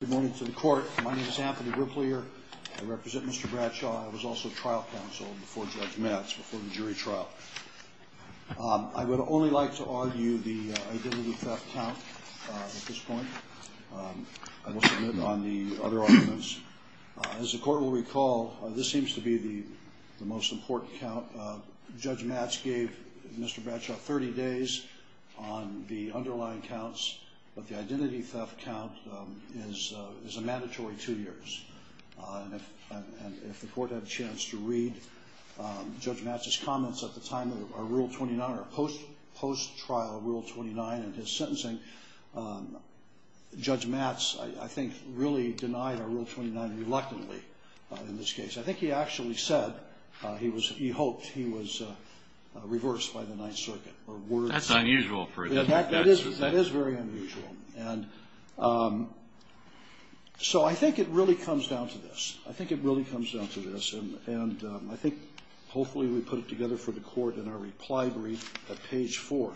Good morning to the court. My name is Anthony Riplier. I represent Mr. Bradshaw. I was also trial counsel before Judge Matz, before the jury trial. I would only like to argue the identity theft count at this point. I will submit on the other arguments. As the court will recall, this seems to be the most important count. Judge Matz gave Mr. Bradshaw 30 days on the underlying counts. But the identity theft count is a mandatory two years. If the court had a chance to read Judge Matz's comments at the time of Rule 29, or post-trial Rule 29 and his sentencing, Judge Matz, I think, really denied Rule 29 reluctantly in this case. I think he actually said he hoped he was reversed by the Ninth Circuit. That's unusual for him. That is very unusual. So I think it really comes down to this. I think it really comes down to this. And I think, hopefully, we put it together for the court in our reply brief at page 4.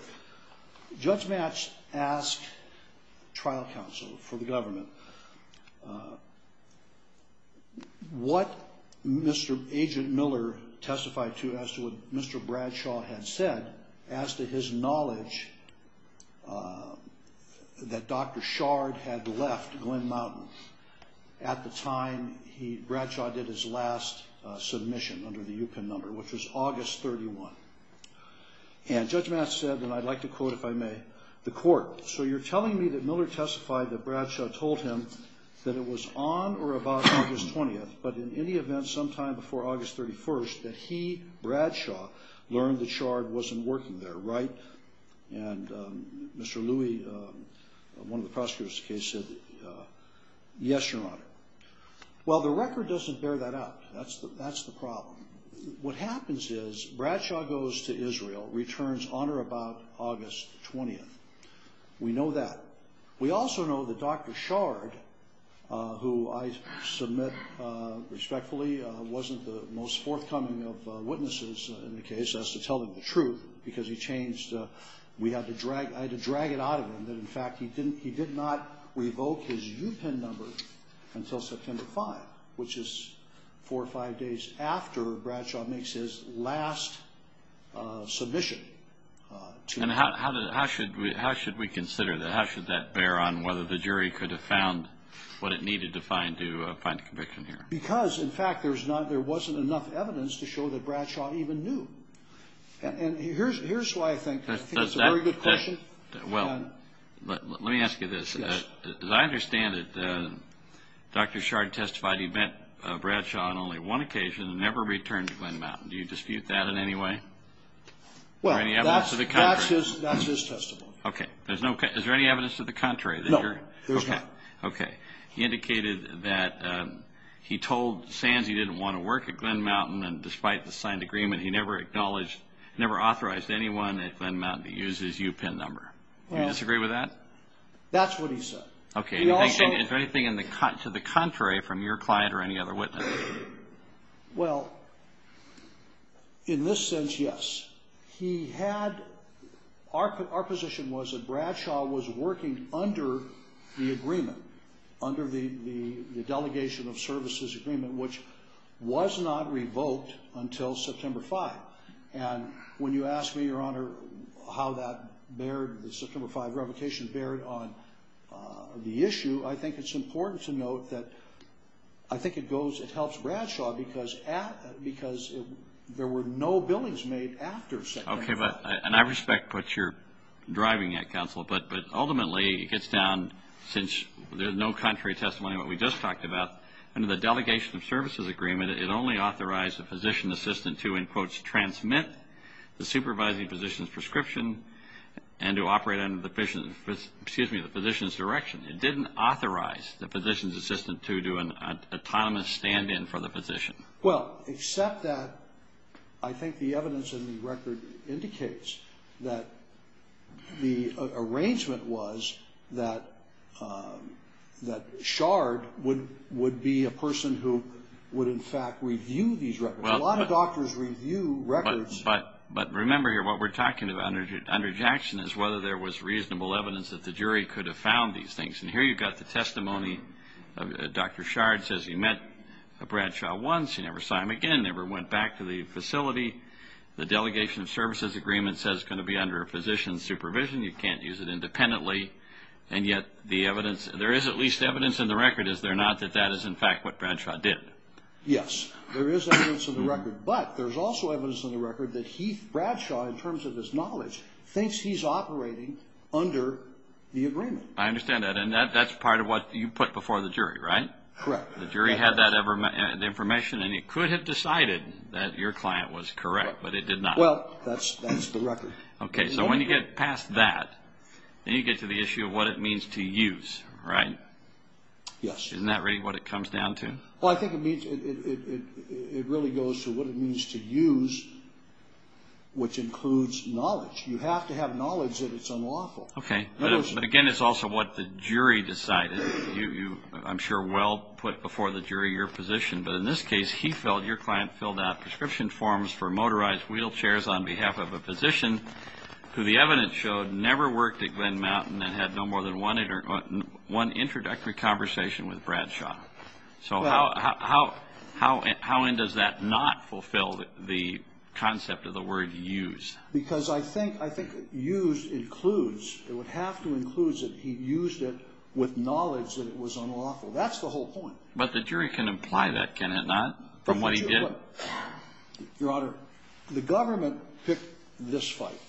Judge Matz asked trial counsel for the government. What Agent Miller testified to as to what Mr. Bradshaw had said, as to his knowledge that Dr. Shard had left Glen Mountain, at the time Bradshaw did his last submission under the UPenn number, which was August 31. And Judge Matz said, and I'd like to quote, if I may, the court. So you're telling me that Miller testified that Bradshaw told him that it was on or about August 20, but in any event, sometime before August 31, that he, Bradshaw, learned that Shard wasn't working there, right? And Mr. Louie, one of the prosecutors of the case, said, yes, Your Honor. Well, the record doesn't bear that out. That's the problem. What happens is Bradshaw goes to Israel, returns on or about August 20. We know that. We also know that Dr. Shard, who I submit respectfully, wasn't the most forthcoming of witnesses in the case, as to telling the truth, because he changed, we had to drag, I had to drag it out of him, that in fact, he did not revoke his UPenn number until September 5, which is four or five days after Bradshaw makes his last submission. And how should we consider that? How should that bear on whether the jury could have found what it needed to find to find a conviction here? Because, in fact, there wasn't enough evidence to show that Bradshaw even knew. And here's why I think that's a very good question. Well, let me ask you this. As I understand it, Dr. Shard testified he met Bradshaw on only one occasion and never returned to Glen Mountain. Do you dispute that in any way? Well, that's his testimony. Okay. Is there any evidence to the contrary? No, there's not. Okay. He indicated that he told Sands he didn't want to work at Glen Mountain, and despite the signed agreement, he never acknowledged, never authorized anyone at Glen Mountain to use his UPenn number. Do you disagree with that? That's what he said. Okay. Is there anything to the contrary from your client or any other witness? Well, in this sense, yes. He had – our position was that Bradshaw was working under the agreement, under the delegation of services agreement, which was not revoked until September 5. And when you ask me, Your Honor, how that bared – the September 5 revocation bared on the issue, I think it's important to note that I think it goes – it helps Bradshaw because at – because there were no billings made after September 5. Okay. And I respect what you're driving at, counsel, but ultimately it gets down, since there's no contrary testimony to what we just talked about, under the delegation of services agreement, it only authorized the physician's assistant to, in quotes, transmit the supervising physician's prescription and to operate under the physician's – excuse me, the physician's direction. It didn't authorize the physician's assistant to do an autonomous stand-in for the physician. Well, except that I think the evidence in the record indicates that the arrangement was that Shard would be a person who would, in fact, review these records. A lot of doctors review records. But remember here, what we're talking about under Jackson is whether there was reasonable evidence that the jury could have found these things. And here you've got the testimony of – Dr. Shard says he met Bradshaw once, he never saw him again, never went back to the facility. The delegation of services agreement says it's going to be under a physician's supervision, you can't use it independently, and yet the evidence – there is at least evidence in the record, is there not, that that is, in fact, what Bradshaw did? Yes. There is evidence in the record. But there's also evidence in the record that Heath Bradshaw, in terms of his knowledge, thinks he's operating under the agreement. I understand that. And that's part of what you put before the jury, right? Correct. The jury had that information, and it could have decided that your client was correct, but it did not. Well, that's the record. Okay. So when you get past that, then you get to the issue of what it means to use, right? Yes. Isn't that really what it comes down to? Well, I think it really goes to what it means to use, which includes knowledge. You have to have knowledge that it's unlawful. Okay. But again, it's also what the jury decided. You, I'm sure, well put before the jury your position. But in this case, Heath felt your client filled out prescription forms for motorized wheelchairs on behalf of a physician who the evidence showed never worked at Glen Mountain and had no more than one introductory conversation with Bradshaw. So how in does that not fulfill the concept of the word use? Because I think use includes, it would have to include that he used it with knowledge that it was unlawful. That's the whole point. But the jury can imply that, can it not, from what he did? Your Honor, the government picked this fight.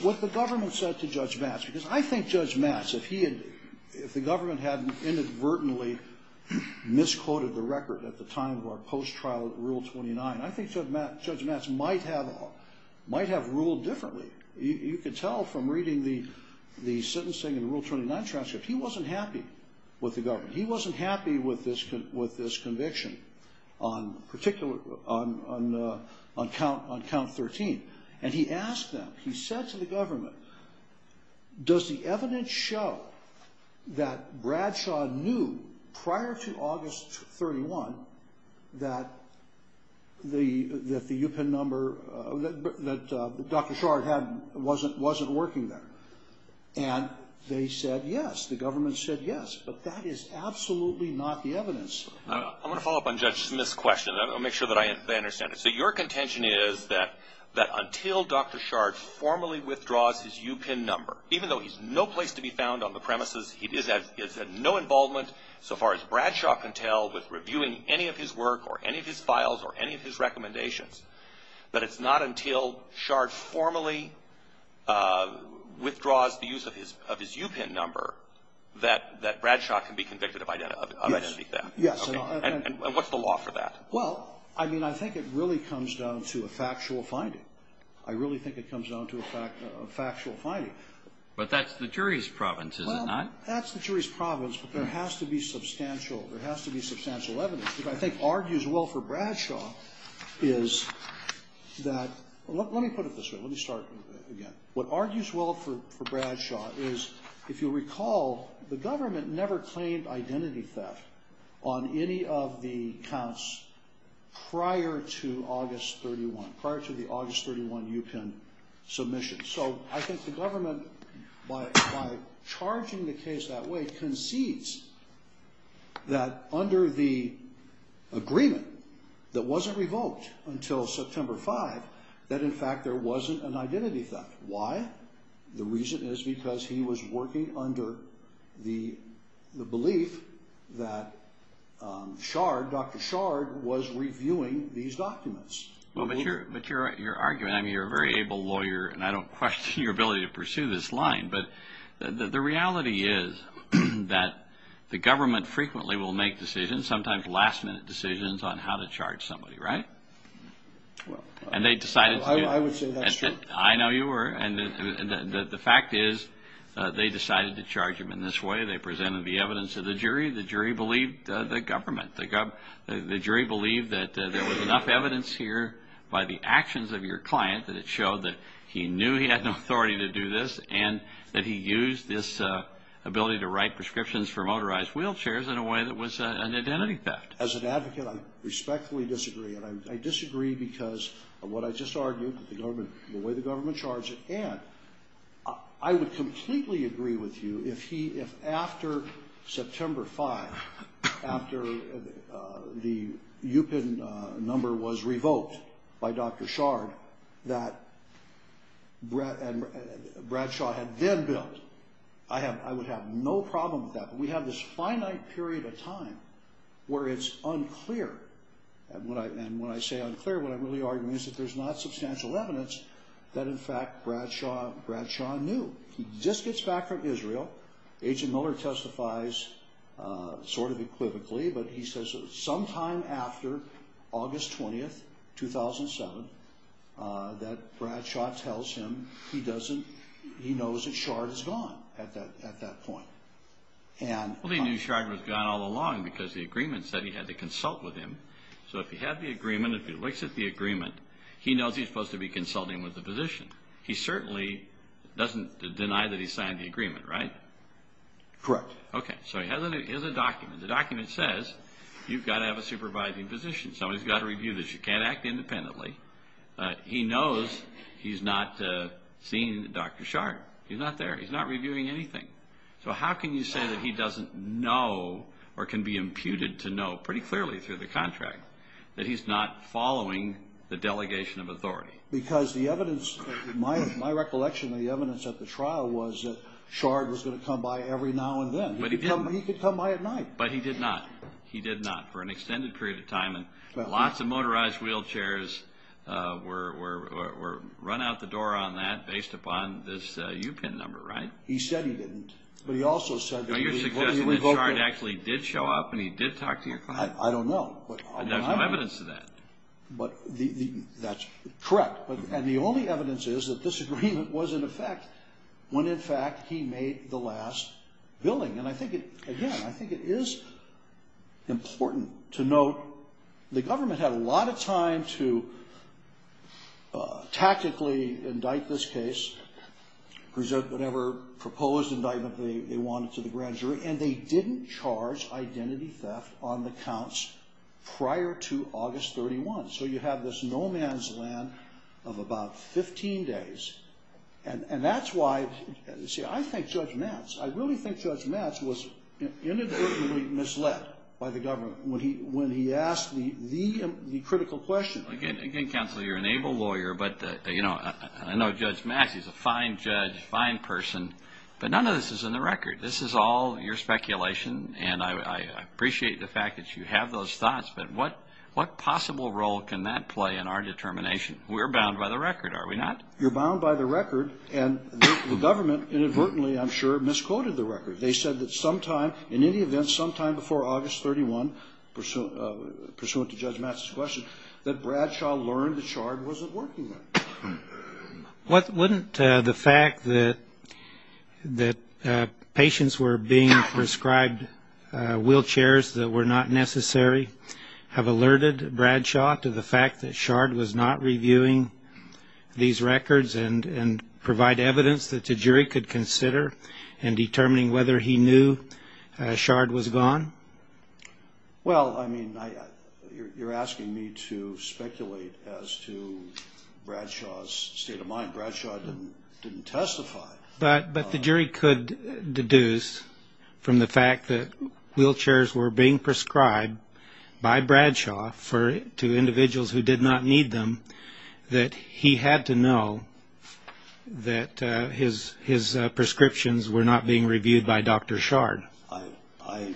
What the government said to Judge Matz, because I think Judge Matz, if he had, if the government hadn't inadvertently misquoted the record at the time of our post-trial at Rule 29, I think Judge Matz might have ruled differently. You can tell from reading the sentencing in the Rule 29 transcript, he wasn't happy with the government. He wasn't happy with this conviction on particular, on count 13. And he asked them, he said to the government, does the evidence show that Bradshaw knew prior to August 31 that the UPIN number, that Dr. Shard hadn't, wasn't working there? And they said yes. The government said yes. But that is absolutely not the evidence. I want to follow up on Judge Smith's question. I want to make sure that I understand it. So your contention is that until Dr. Shard formally withdraws his UPIN number, even though he's no place to be found on the premises, he is at no involvement, so far as Bradshaw can tell, with reviewing any of his work or any of his files or any of his recommendations, that it's not until Shard formally withdraws the use of his UPIN number that Bradshaw can be convicted of identity theft? Yes. Okay. And what's the law for that? Well, I mean, I think it really comes down to a factual finding. I really think it comes down to a factual finding. But that's the jury's province, is it not? Well, that's the jury's province, but there has to be substantial, there has to be substantial evidence. What I think argues well for Bradshaw is that, let me put it this way, let me start again. What argues well for Bradshaw is, if you'll recall, the government never claimed identity theft on any of the counts prior to August 31, prior to the August 31 UPIN submission. So I think the government, by charging the case that way, concedes that under the agreement that wasn't revoked until September 5, that in fact there wasn't an identity theft. Why? The reason is because he was working under the belief that Shard, Dr. Shard, was reviewing these documents. But your argument, I mean, you're a very able lawyer, and I don't question your ability to pursue this line. But the reality is that the government frequently will make decisions, sometimes last-minute decisions, on how to charge somebody, right? Well, I would say that's true. I know you were. And the fact is they decided to charge him in this way. They presented the evidence to the jury. The jury believed the government. The jury believed that there was enough evidence here by the actions of your client that it showed that he knew he had no authority to do this and that he used this ability to write prescriptions for motorized wheelchairs in a way that was an identity theft. As an advocate, I respectfully disagree. And I disagree because of what I just argued, the way the government charged it. I would completely agree with you if after September 5, after the UPIN number was revoked by Dr. Shard, that Bradshaw had then built. I would have no problem with that. But we have this finite period of time where it's unclear. And when I say unclear, what I'm really arguing is that there's not substantial evidence that, in fact, Bradshaw knew. He just gets back from Israel. Agent Miller testifies sort of equivocally, but he says sometime after August 20, 2007, that Bradshaw tells him he knows that Shard is gone at that point. Well, he knew Shard was gone all along because the agreement said he had to consult with him. So if he had the agreement, if he looks at the agreement, he knows he's supposed to be consulting with the physician. He certainly doesn't deny that he signed the agreement, right? Correct. Okay. So he has a document. The document says you've got to have a supervising physician. Somebody's got to review this. You can't act independently. He knows he's not seeing Dr. Shard. He's not there. He's not reviewing anything. So how can you say that he doesn't know or can be imputed to know pretty clearly through the contract that he's not following the delegation of authority? Because the evidence, my recollection of the evidence at the trial was that Shard was going to come by every now and then. But he didn't. He could come by at night. But he did not. He did not for an extended period of time. And lots of motorized wheelchairs were run out the door on that based upon this UPIN number, right? He said he didn't. But he also said that he was going to revoke it. So you're suggesting that Shard actually did show up and he did talk to your client? I don't know. There's no evidence to that. But that's correct. And the only evidence is that this agreement was in effect when, in fact, he made the last billing. And I think, again, I think it is important to note the government had a lot of time to tactically indict this case, present whatever proposed indictment they wanted to the grand jury. And they didn't charge identity theft on the counts prior to August 31. So you have this no man's land of about 15 days. And that's why, see, I think Judge Matz, I really think Judge Matz was inadvertently misled by the government when he asked the critical question. Again, Counselor, you're an able lawyer. But, you know, I know Judge Matz is a fine judge, fine person. But none of this is in the record. This is all your speculation. And I appreciate the fact that you have those thoughts. But what possible role can that play in our determination? We're bound by the record, are we not? You're bound by the record. And the government inadvertently, I'm sure, misquoted the record. They said that sometime, in any event, sometime before August 31, pursuant to Judge Matz's question, that Bradshaw learned that Shard wasn't working there. Wouldn't the fact that patients were being prescribed wheelchairs that were not necessary have alerted Bradshaw to the fact that Shard was not reviewing these records and provide evidence that the jury could consider in determining whether he knew Shard was gone? Well, I mean, you're asking me to speculate as to Bradshaw's state of mind. Bradshaw didn't testify. But the jury could deduce from the fact that wheelchairs were being prescribed by Bradshaw to individuals who did not need them that he had to know that his prescriptions were not being reviewed by Dr. Shard. I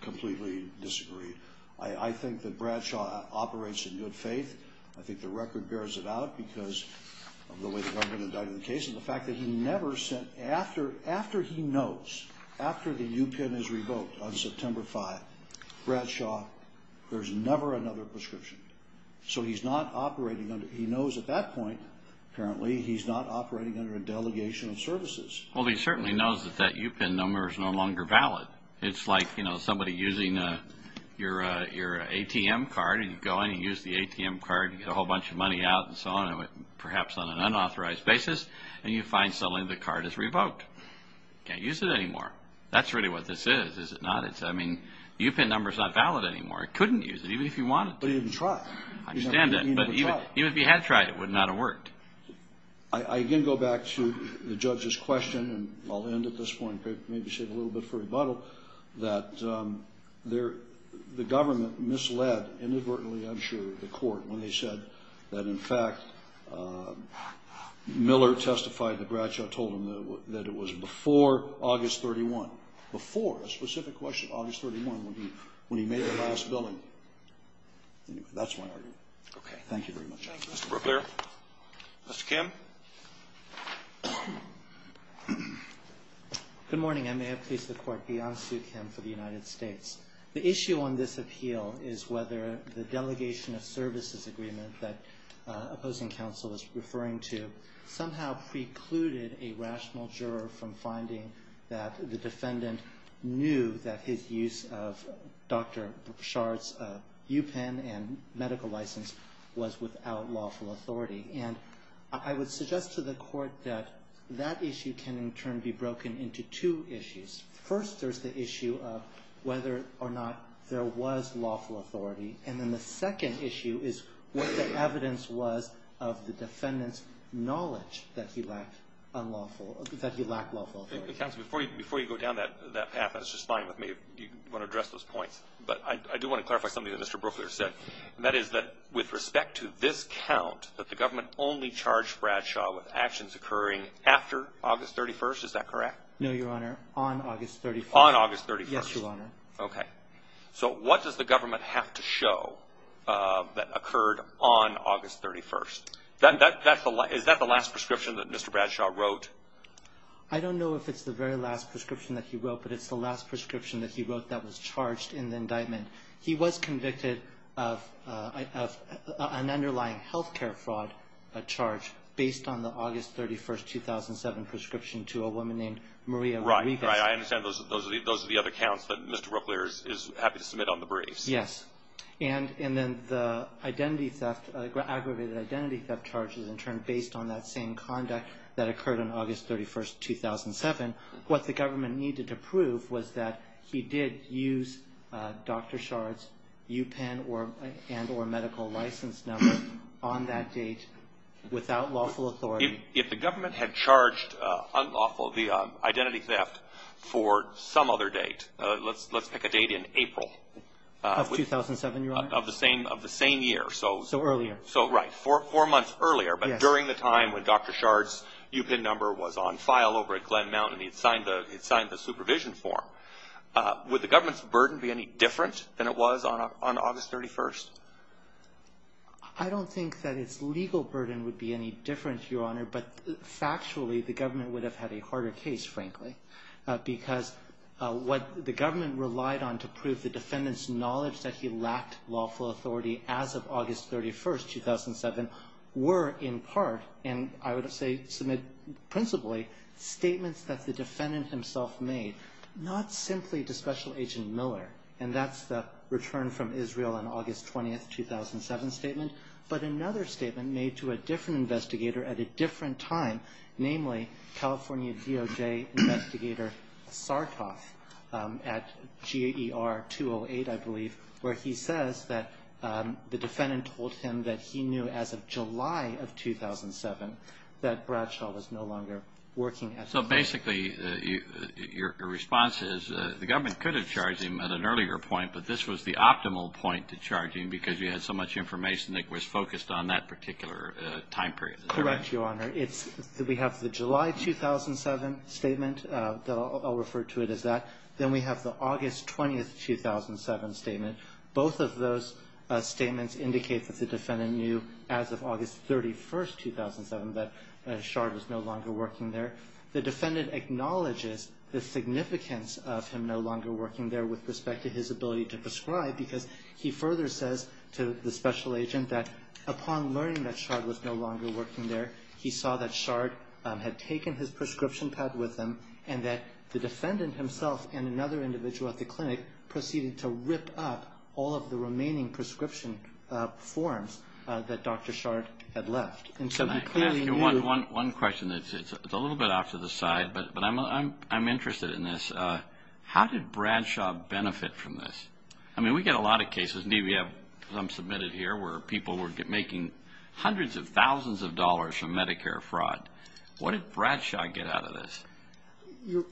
completely disagree. I think that Bradshaw operates in good faith. I think the record bears it out because of the way the government indicted the case and the fact that he never sent, after he knows, after the UPIN is revoked on September 5, Bradshaw, there's never another prescription. So he's not operating under, he knows at that point, apparently, he's not operating under a delegation of services. Well, he certainly knows that that UPIN number is no longer valid. It's like, you know, somebody using your ATM card and you go in and use the ATM card and get a whole bunch of money out and so on, perhaps on an unauthorized basis, and you find suddenly the card is revoked. You can't use it anymore. That's really what this is, is it not? I mean, the UPIN number is not valid anymore. It couldn't use it, even if you wanted to. But he didn't try. I understand that. But even if he had tried, it would not have worked. I again go back to the judge's question, and I'll end at this point, maybe save a little bit for rebuttal, that the government misled, inadvertently, I'm sure, the court when they said that, in fact, Miller testified to Bradshaw, told him that it was before August 31, before, a specific question, August 31, when he made the last billing. Anyway, that's my argument. Okay. Thank you very much. Thank you. Mr. Brooklier. Mr. Kim. Good morning. I may have pleased the court beyond Sue Kim for the United States. The issue on this appeal is whether the delegation of services agreement that opposing counsel is referring to somehow precluded a rational juror from finding that the defendant knew that his use of Dr. Brashard's UPIN and medical license was without lawful authority. And I would suggest to the court that that issue can, in turn, be broken into two issues. First, there's the issue of whether or not there was lawful authority. And then the second issue is what the evidence was of the defendant's knowledge that he lacked lawful authority. Counsel, before you go down that path, that's just fine with me, if you want to address those points. But I do want to clarify something that Mr. Brooklier said. And that is that with respect to this count, that the government only charged Bradshaw with actions occurring after August 31st. Is that correct? No, Your Honor. On August 31st. On August 31st. Yes, Your Honor. Okay. So what does the government have to show that occurred on August 31st? Is that the last prescription that Mr. Bradshaw wrote? I don't know if it's the very last prescription that he wrote, but it's the last prescription that he wrote that was charged in the indictment. He was convicted of an underlying health care fraud charge based on the August 31st, 2007, prescription to a woman named Maria Rodriguez. Right, right. I understand those are the other counts that Mr. Brooklier is happy to submit on the briefs. Yes. And then the identity theft, aggravated identity theft charges in turn based on that same conduct that occurred on August 31st, 2007. What the government needed to prove was that he did use Dr. Shard's UPIN and or medical license number on that date without lawful authority. If the government had charged unlawful the identity theft for some other date, let's pick a date in April. Of 2007, Your Honor. Of the same year. So earlier. So right, four months earlier, but during the time when Dr. Shard's UPIN number was on file over at Glen Mountain, he'd signed the supervision form. Would the government's burden be any different than it was on August 31st? I don't think that its legal burden would be any different, Your Honor, but factually the government would have had a harder case, frankly, because what the government relied on to prove the defendant's knowledge that he lacked lawful authority as of August 31st, 2007, were in part, and I would say principally, statements that the defendant himself made, not simply to Special Agent Miller, and that's the return from Israel on August 20th, 2007 statement, but another statement made to a different investigator at a different time, namely California DOJ investigator Sartoff at GER 208, I believe, where he says that the defendant told him that he knew as of July of 2007 that Bradshaw was no longer working at the time. So basically your response is the government could have charged him at an earlier point, but this was the optimal point to charge him because you had so much information that was focused on that particular time period. Correct, Your Honor. We have the July 2007 statement. I'll refer to it as that. Then we have the August 20th, 2007 statement. Both of those statements indicate that the defendant knew as of August 31st, 2007 that Shard was no longer working there. The defendant acknowledges the significance of him no longer working there with respect to his ability to prescribe because he further says to the special agent that upon learning that Shard was no longer working there, he saw that Shard had taken his prescription pad with him and that the defendant himself and another individual at the clinic proceeded to rip up all of the remaining prescription forms that Dr. Shard had left. And so he clearly knew. Can I ask you one question? It's a little bit off to the side, but I'm interested in this. How did Bradshaw benefit from this? I mean, we get a lot of cases. Indeed, we have some submitted here where people were making hundreds of thousands of dollars from Medicare fraud. What did Bradshaw get out of this?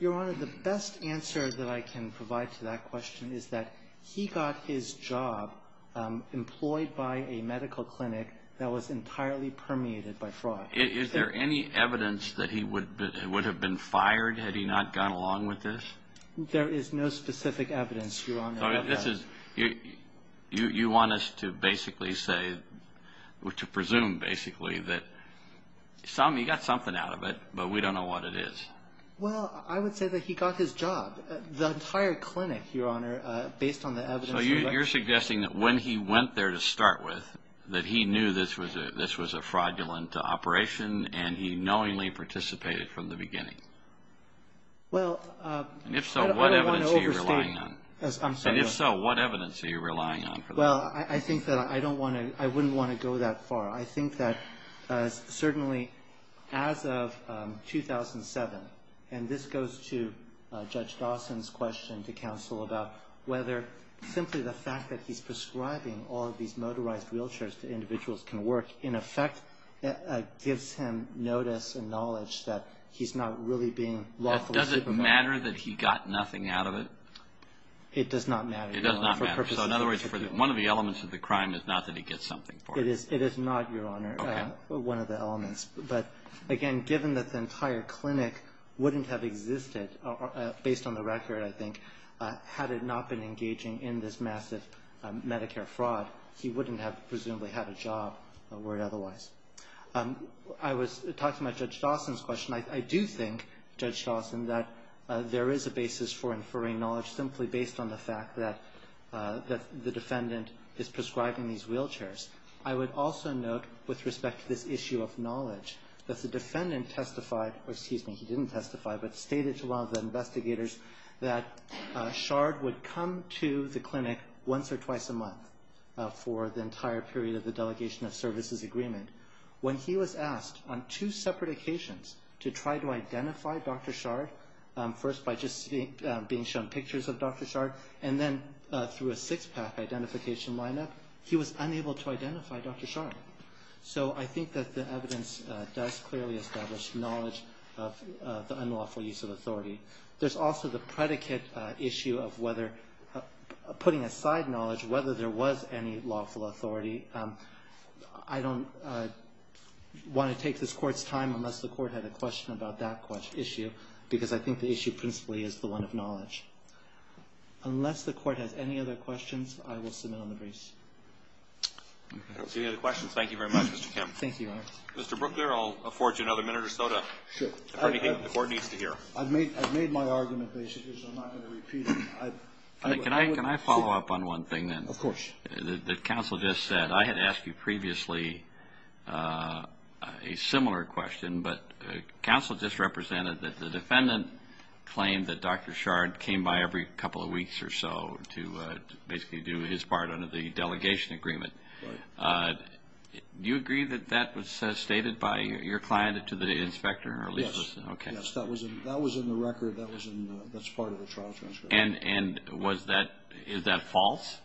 Your Honor, the best answer that I can provide to that question is that he got his job employed by a medical clinic that was entirely permeated by fraud. Is there any evidence that he would have been fired had he not gone along with this? There is no specific evidence, Your Honor. You want us to basically say, to presume basically that he got something out of it, but we don't know what it is. Well, I would say that he got his job, the entire clinic, Your Honor, based on the evidence. So you're suggesting that when he went there to start with, that he knew this was a fraudulent operation and he knowingly participated from the beginning? Well, I don't want to overstate. If so, what evidence are you relying on? Well, I think that I wouldn't want to go that far. I think that certainly as of 2007, and this goes to Judge Dawson's question to counsel about whether simply the fact that he's prescribing all of these motorized wheelchairs to individuals can work, in effect gives him notice and knowledge that he's not really being lawfully supervised. Does it matter that he got nothing out of it? It does not matter. It does not matter. So in other words, one of the elements of the crime is not that he gets something for it. It is not, Your Honor, one of the elements. But again, given that the entire clinic wouldn't have existed, based on the record, I think, had it not been engaging in this massive Medicare fraud, he wouldn't have presumably had a job or otherwise. I was talking about Judge Dawson's question. I do think, Judge Dawson, that there is a basis for inferring knowledge simply based on the fact that the defendant is prescribing these wheelchairs. I would also note, with respect to this issue of knowledge, that the defendant testified or, excuse me, he didn't testify, but stated to one of the investigators that Shard would come to the clinic once or twice a month for the entire period of the Delegation of Services Agreement. When he was asked, on two separate occasions, to try to identify Dr. Shard, first by just being shown pictures of Dr. Shard, and then through a six-pack identification lineup, he was unable to identify Dr. Shard. So I think that the evidence does clearly establish knowledge of the unlawful use of authority. There's also the predicate issue of whether, putting aside knowledge, whether there was any lawful authority. I don't want to take this Court's time unless the Court had a question about that issue, because I think the issue principally is the one of knowledge. Unless the Court has any other questions, I will submit on the briefs. I don't see any other questions. Thank you very much, Mr. Kim. Thank you, Your Honor. Mr. Brooklier, I'll afford you another minute or so to, if anything, the Court needs to hear. I've made my argument, basically, so I'm not going to repeat it. Can I follow up on one thing, then? Of course. The counsel just said, I had asked you previously a similar question, but counsel just represented that the defendant claimed that Dr. Shard came by every couple of weeks or so to basically do his part under the Delegation Agreement. Do you agree that that was stated by your client to the inspector? Yes. Okay. Yes, that was in the record that's part of the trial transcript. And is that false?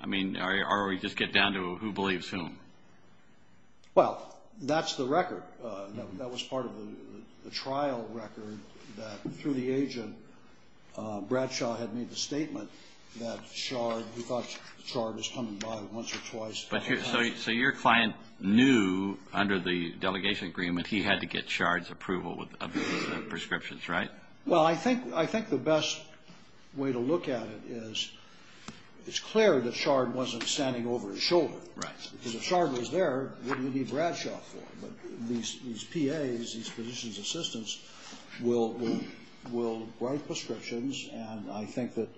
I mean, or we just get down to who believes whom? Well, that's the record. That was part of the trial record that, through the agent, Bradshaw had made the statement that Shard, who thought Shard was coming by once or twice. So your client knew under the Delegation Agreement he had to get Shard's approval of the prescriptions, right? Well, I think the best way to look at it is it's clear that Shard wasn't standing over his shoulder. Right. Because if Shard was there, what do you need Bradshaw for? But these PAs, these positions assistants, will write prescriptions, and I think that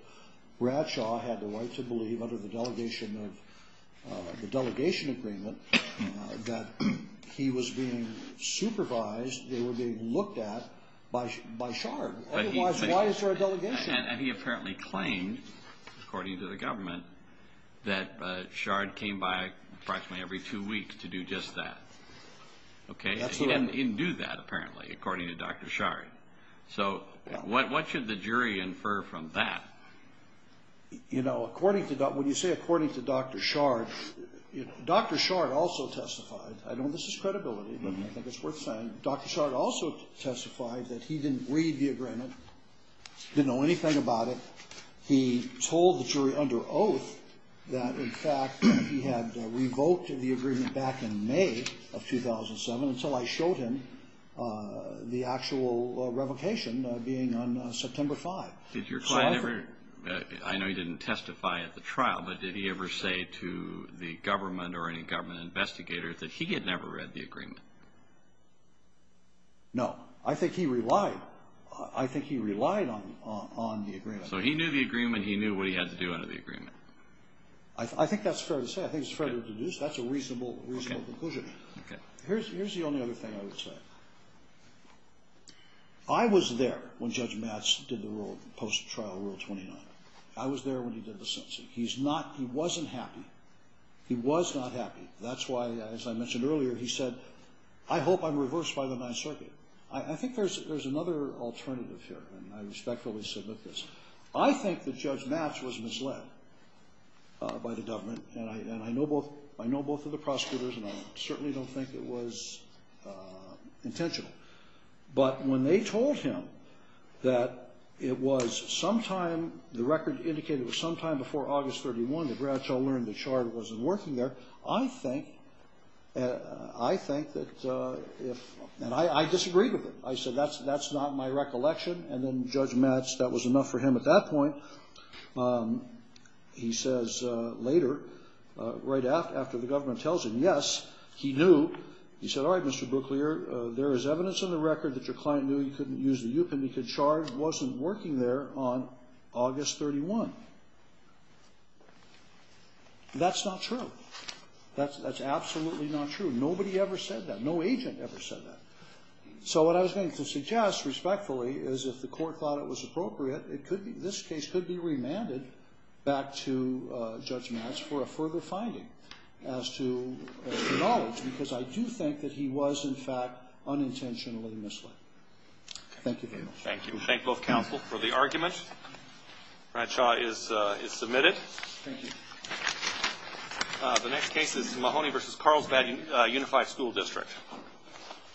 Bradshaw had the right to believe under the Delegation Agreement that he was being supervised, they were being looked at, by Shard. Otherwise, why is there a delegation? And he apparently claimed, according to the government, that Shard came by approximately every two weeks to do just that. Okay. He didn't do that, apparently, according to Dr. Shari. So what should the jury infer from that? You know, when you say according to Dr. Shard, Dr. Shard also testified, I know this is credibility, but I think it's worth saying, Dr. Shard also testified that he didn't read the agreement, didn't know anything about it. He told the jury under oath that, in fact, he had revoked the agreement back in May of 2007 until I showed him the actual revocation being on September 5. Did your client ever, I know he didn't testify at the trial, but did he ever say to the government or any government investigator that he had never read the agreement? No. I think he relied. I think he relied on the agreement. So he knew the agreement, he knew what he had to do under the agreement. I think that's fair to say. I think it's fair to deduce. That's a reasonable conclusion. Okay. Here's the only other thing I would say. I was there when Judge Matz did the post-trial Rule 29. I was there when he did the sentencing. He wasn't happy. He was not happy. That's why, as I mentioned earlier, he said, I hope I'm reversed by the Ninth Circuit. I think there's another alternative here, and I respectfully submit this. I think that Judge Matz was misled by the government, and I know both of the prosecutors, and I certainly don't think it was intentional. But when they told him that it was sometime, the record indicated it was sometime before August 31, that Bradshaw learned the chart wasn't working there, I think that if, and I disagreed with it. I said that's not my recollection, and then Judge Matz, that was enough for him at that point. He says later, right after the government tells him, yes, he knew. He said, all right, Mr. Brooklier, there is evidence in the record that your client knew he couldn't use the U-pin. He could charge wasn't working there on August 31. That's not true. That's absolutely not true. Nobody ever said that. No agent ever said that. So what I was going to suggest, respectfully, is if the court thought it was appropriate, this case could be remanded back to Judge Matz for a further finding as to knowledge, because I do think that he was, in fact, unintentionally misled. Thank you very much. Thank you. We thank both counsel for the argument. Bradshaw is submitted. Thank you. The next case is Mahoney v. Carlsbad Unified School District.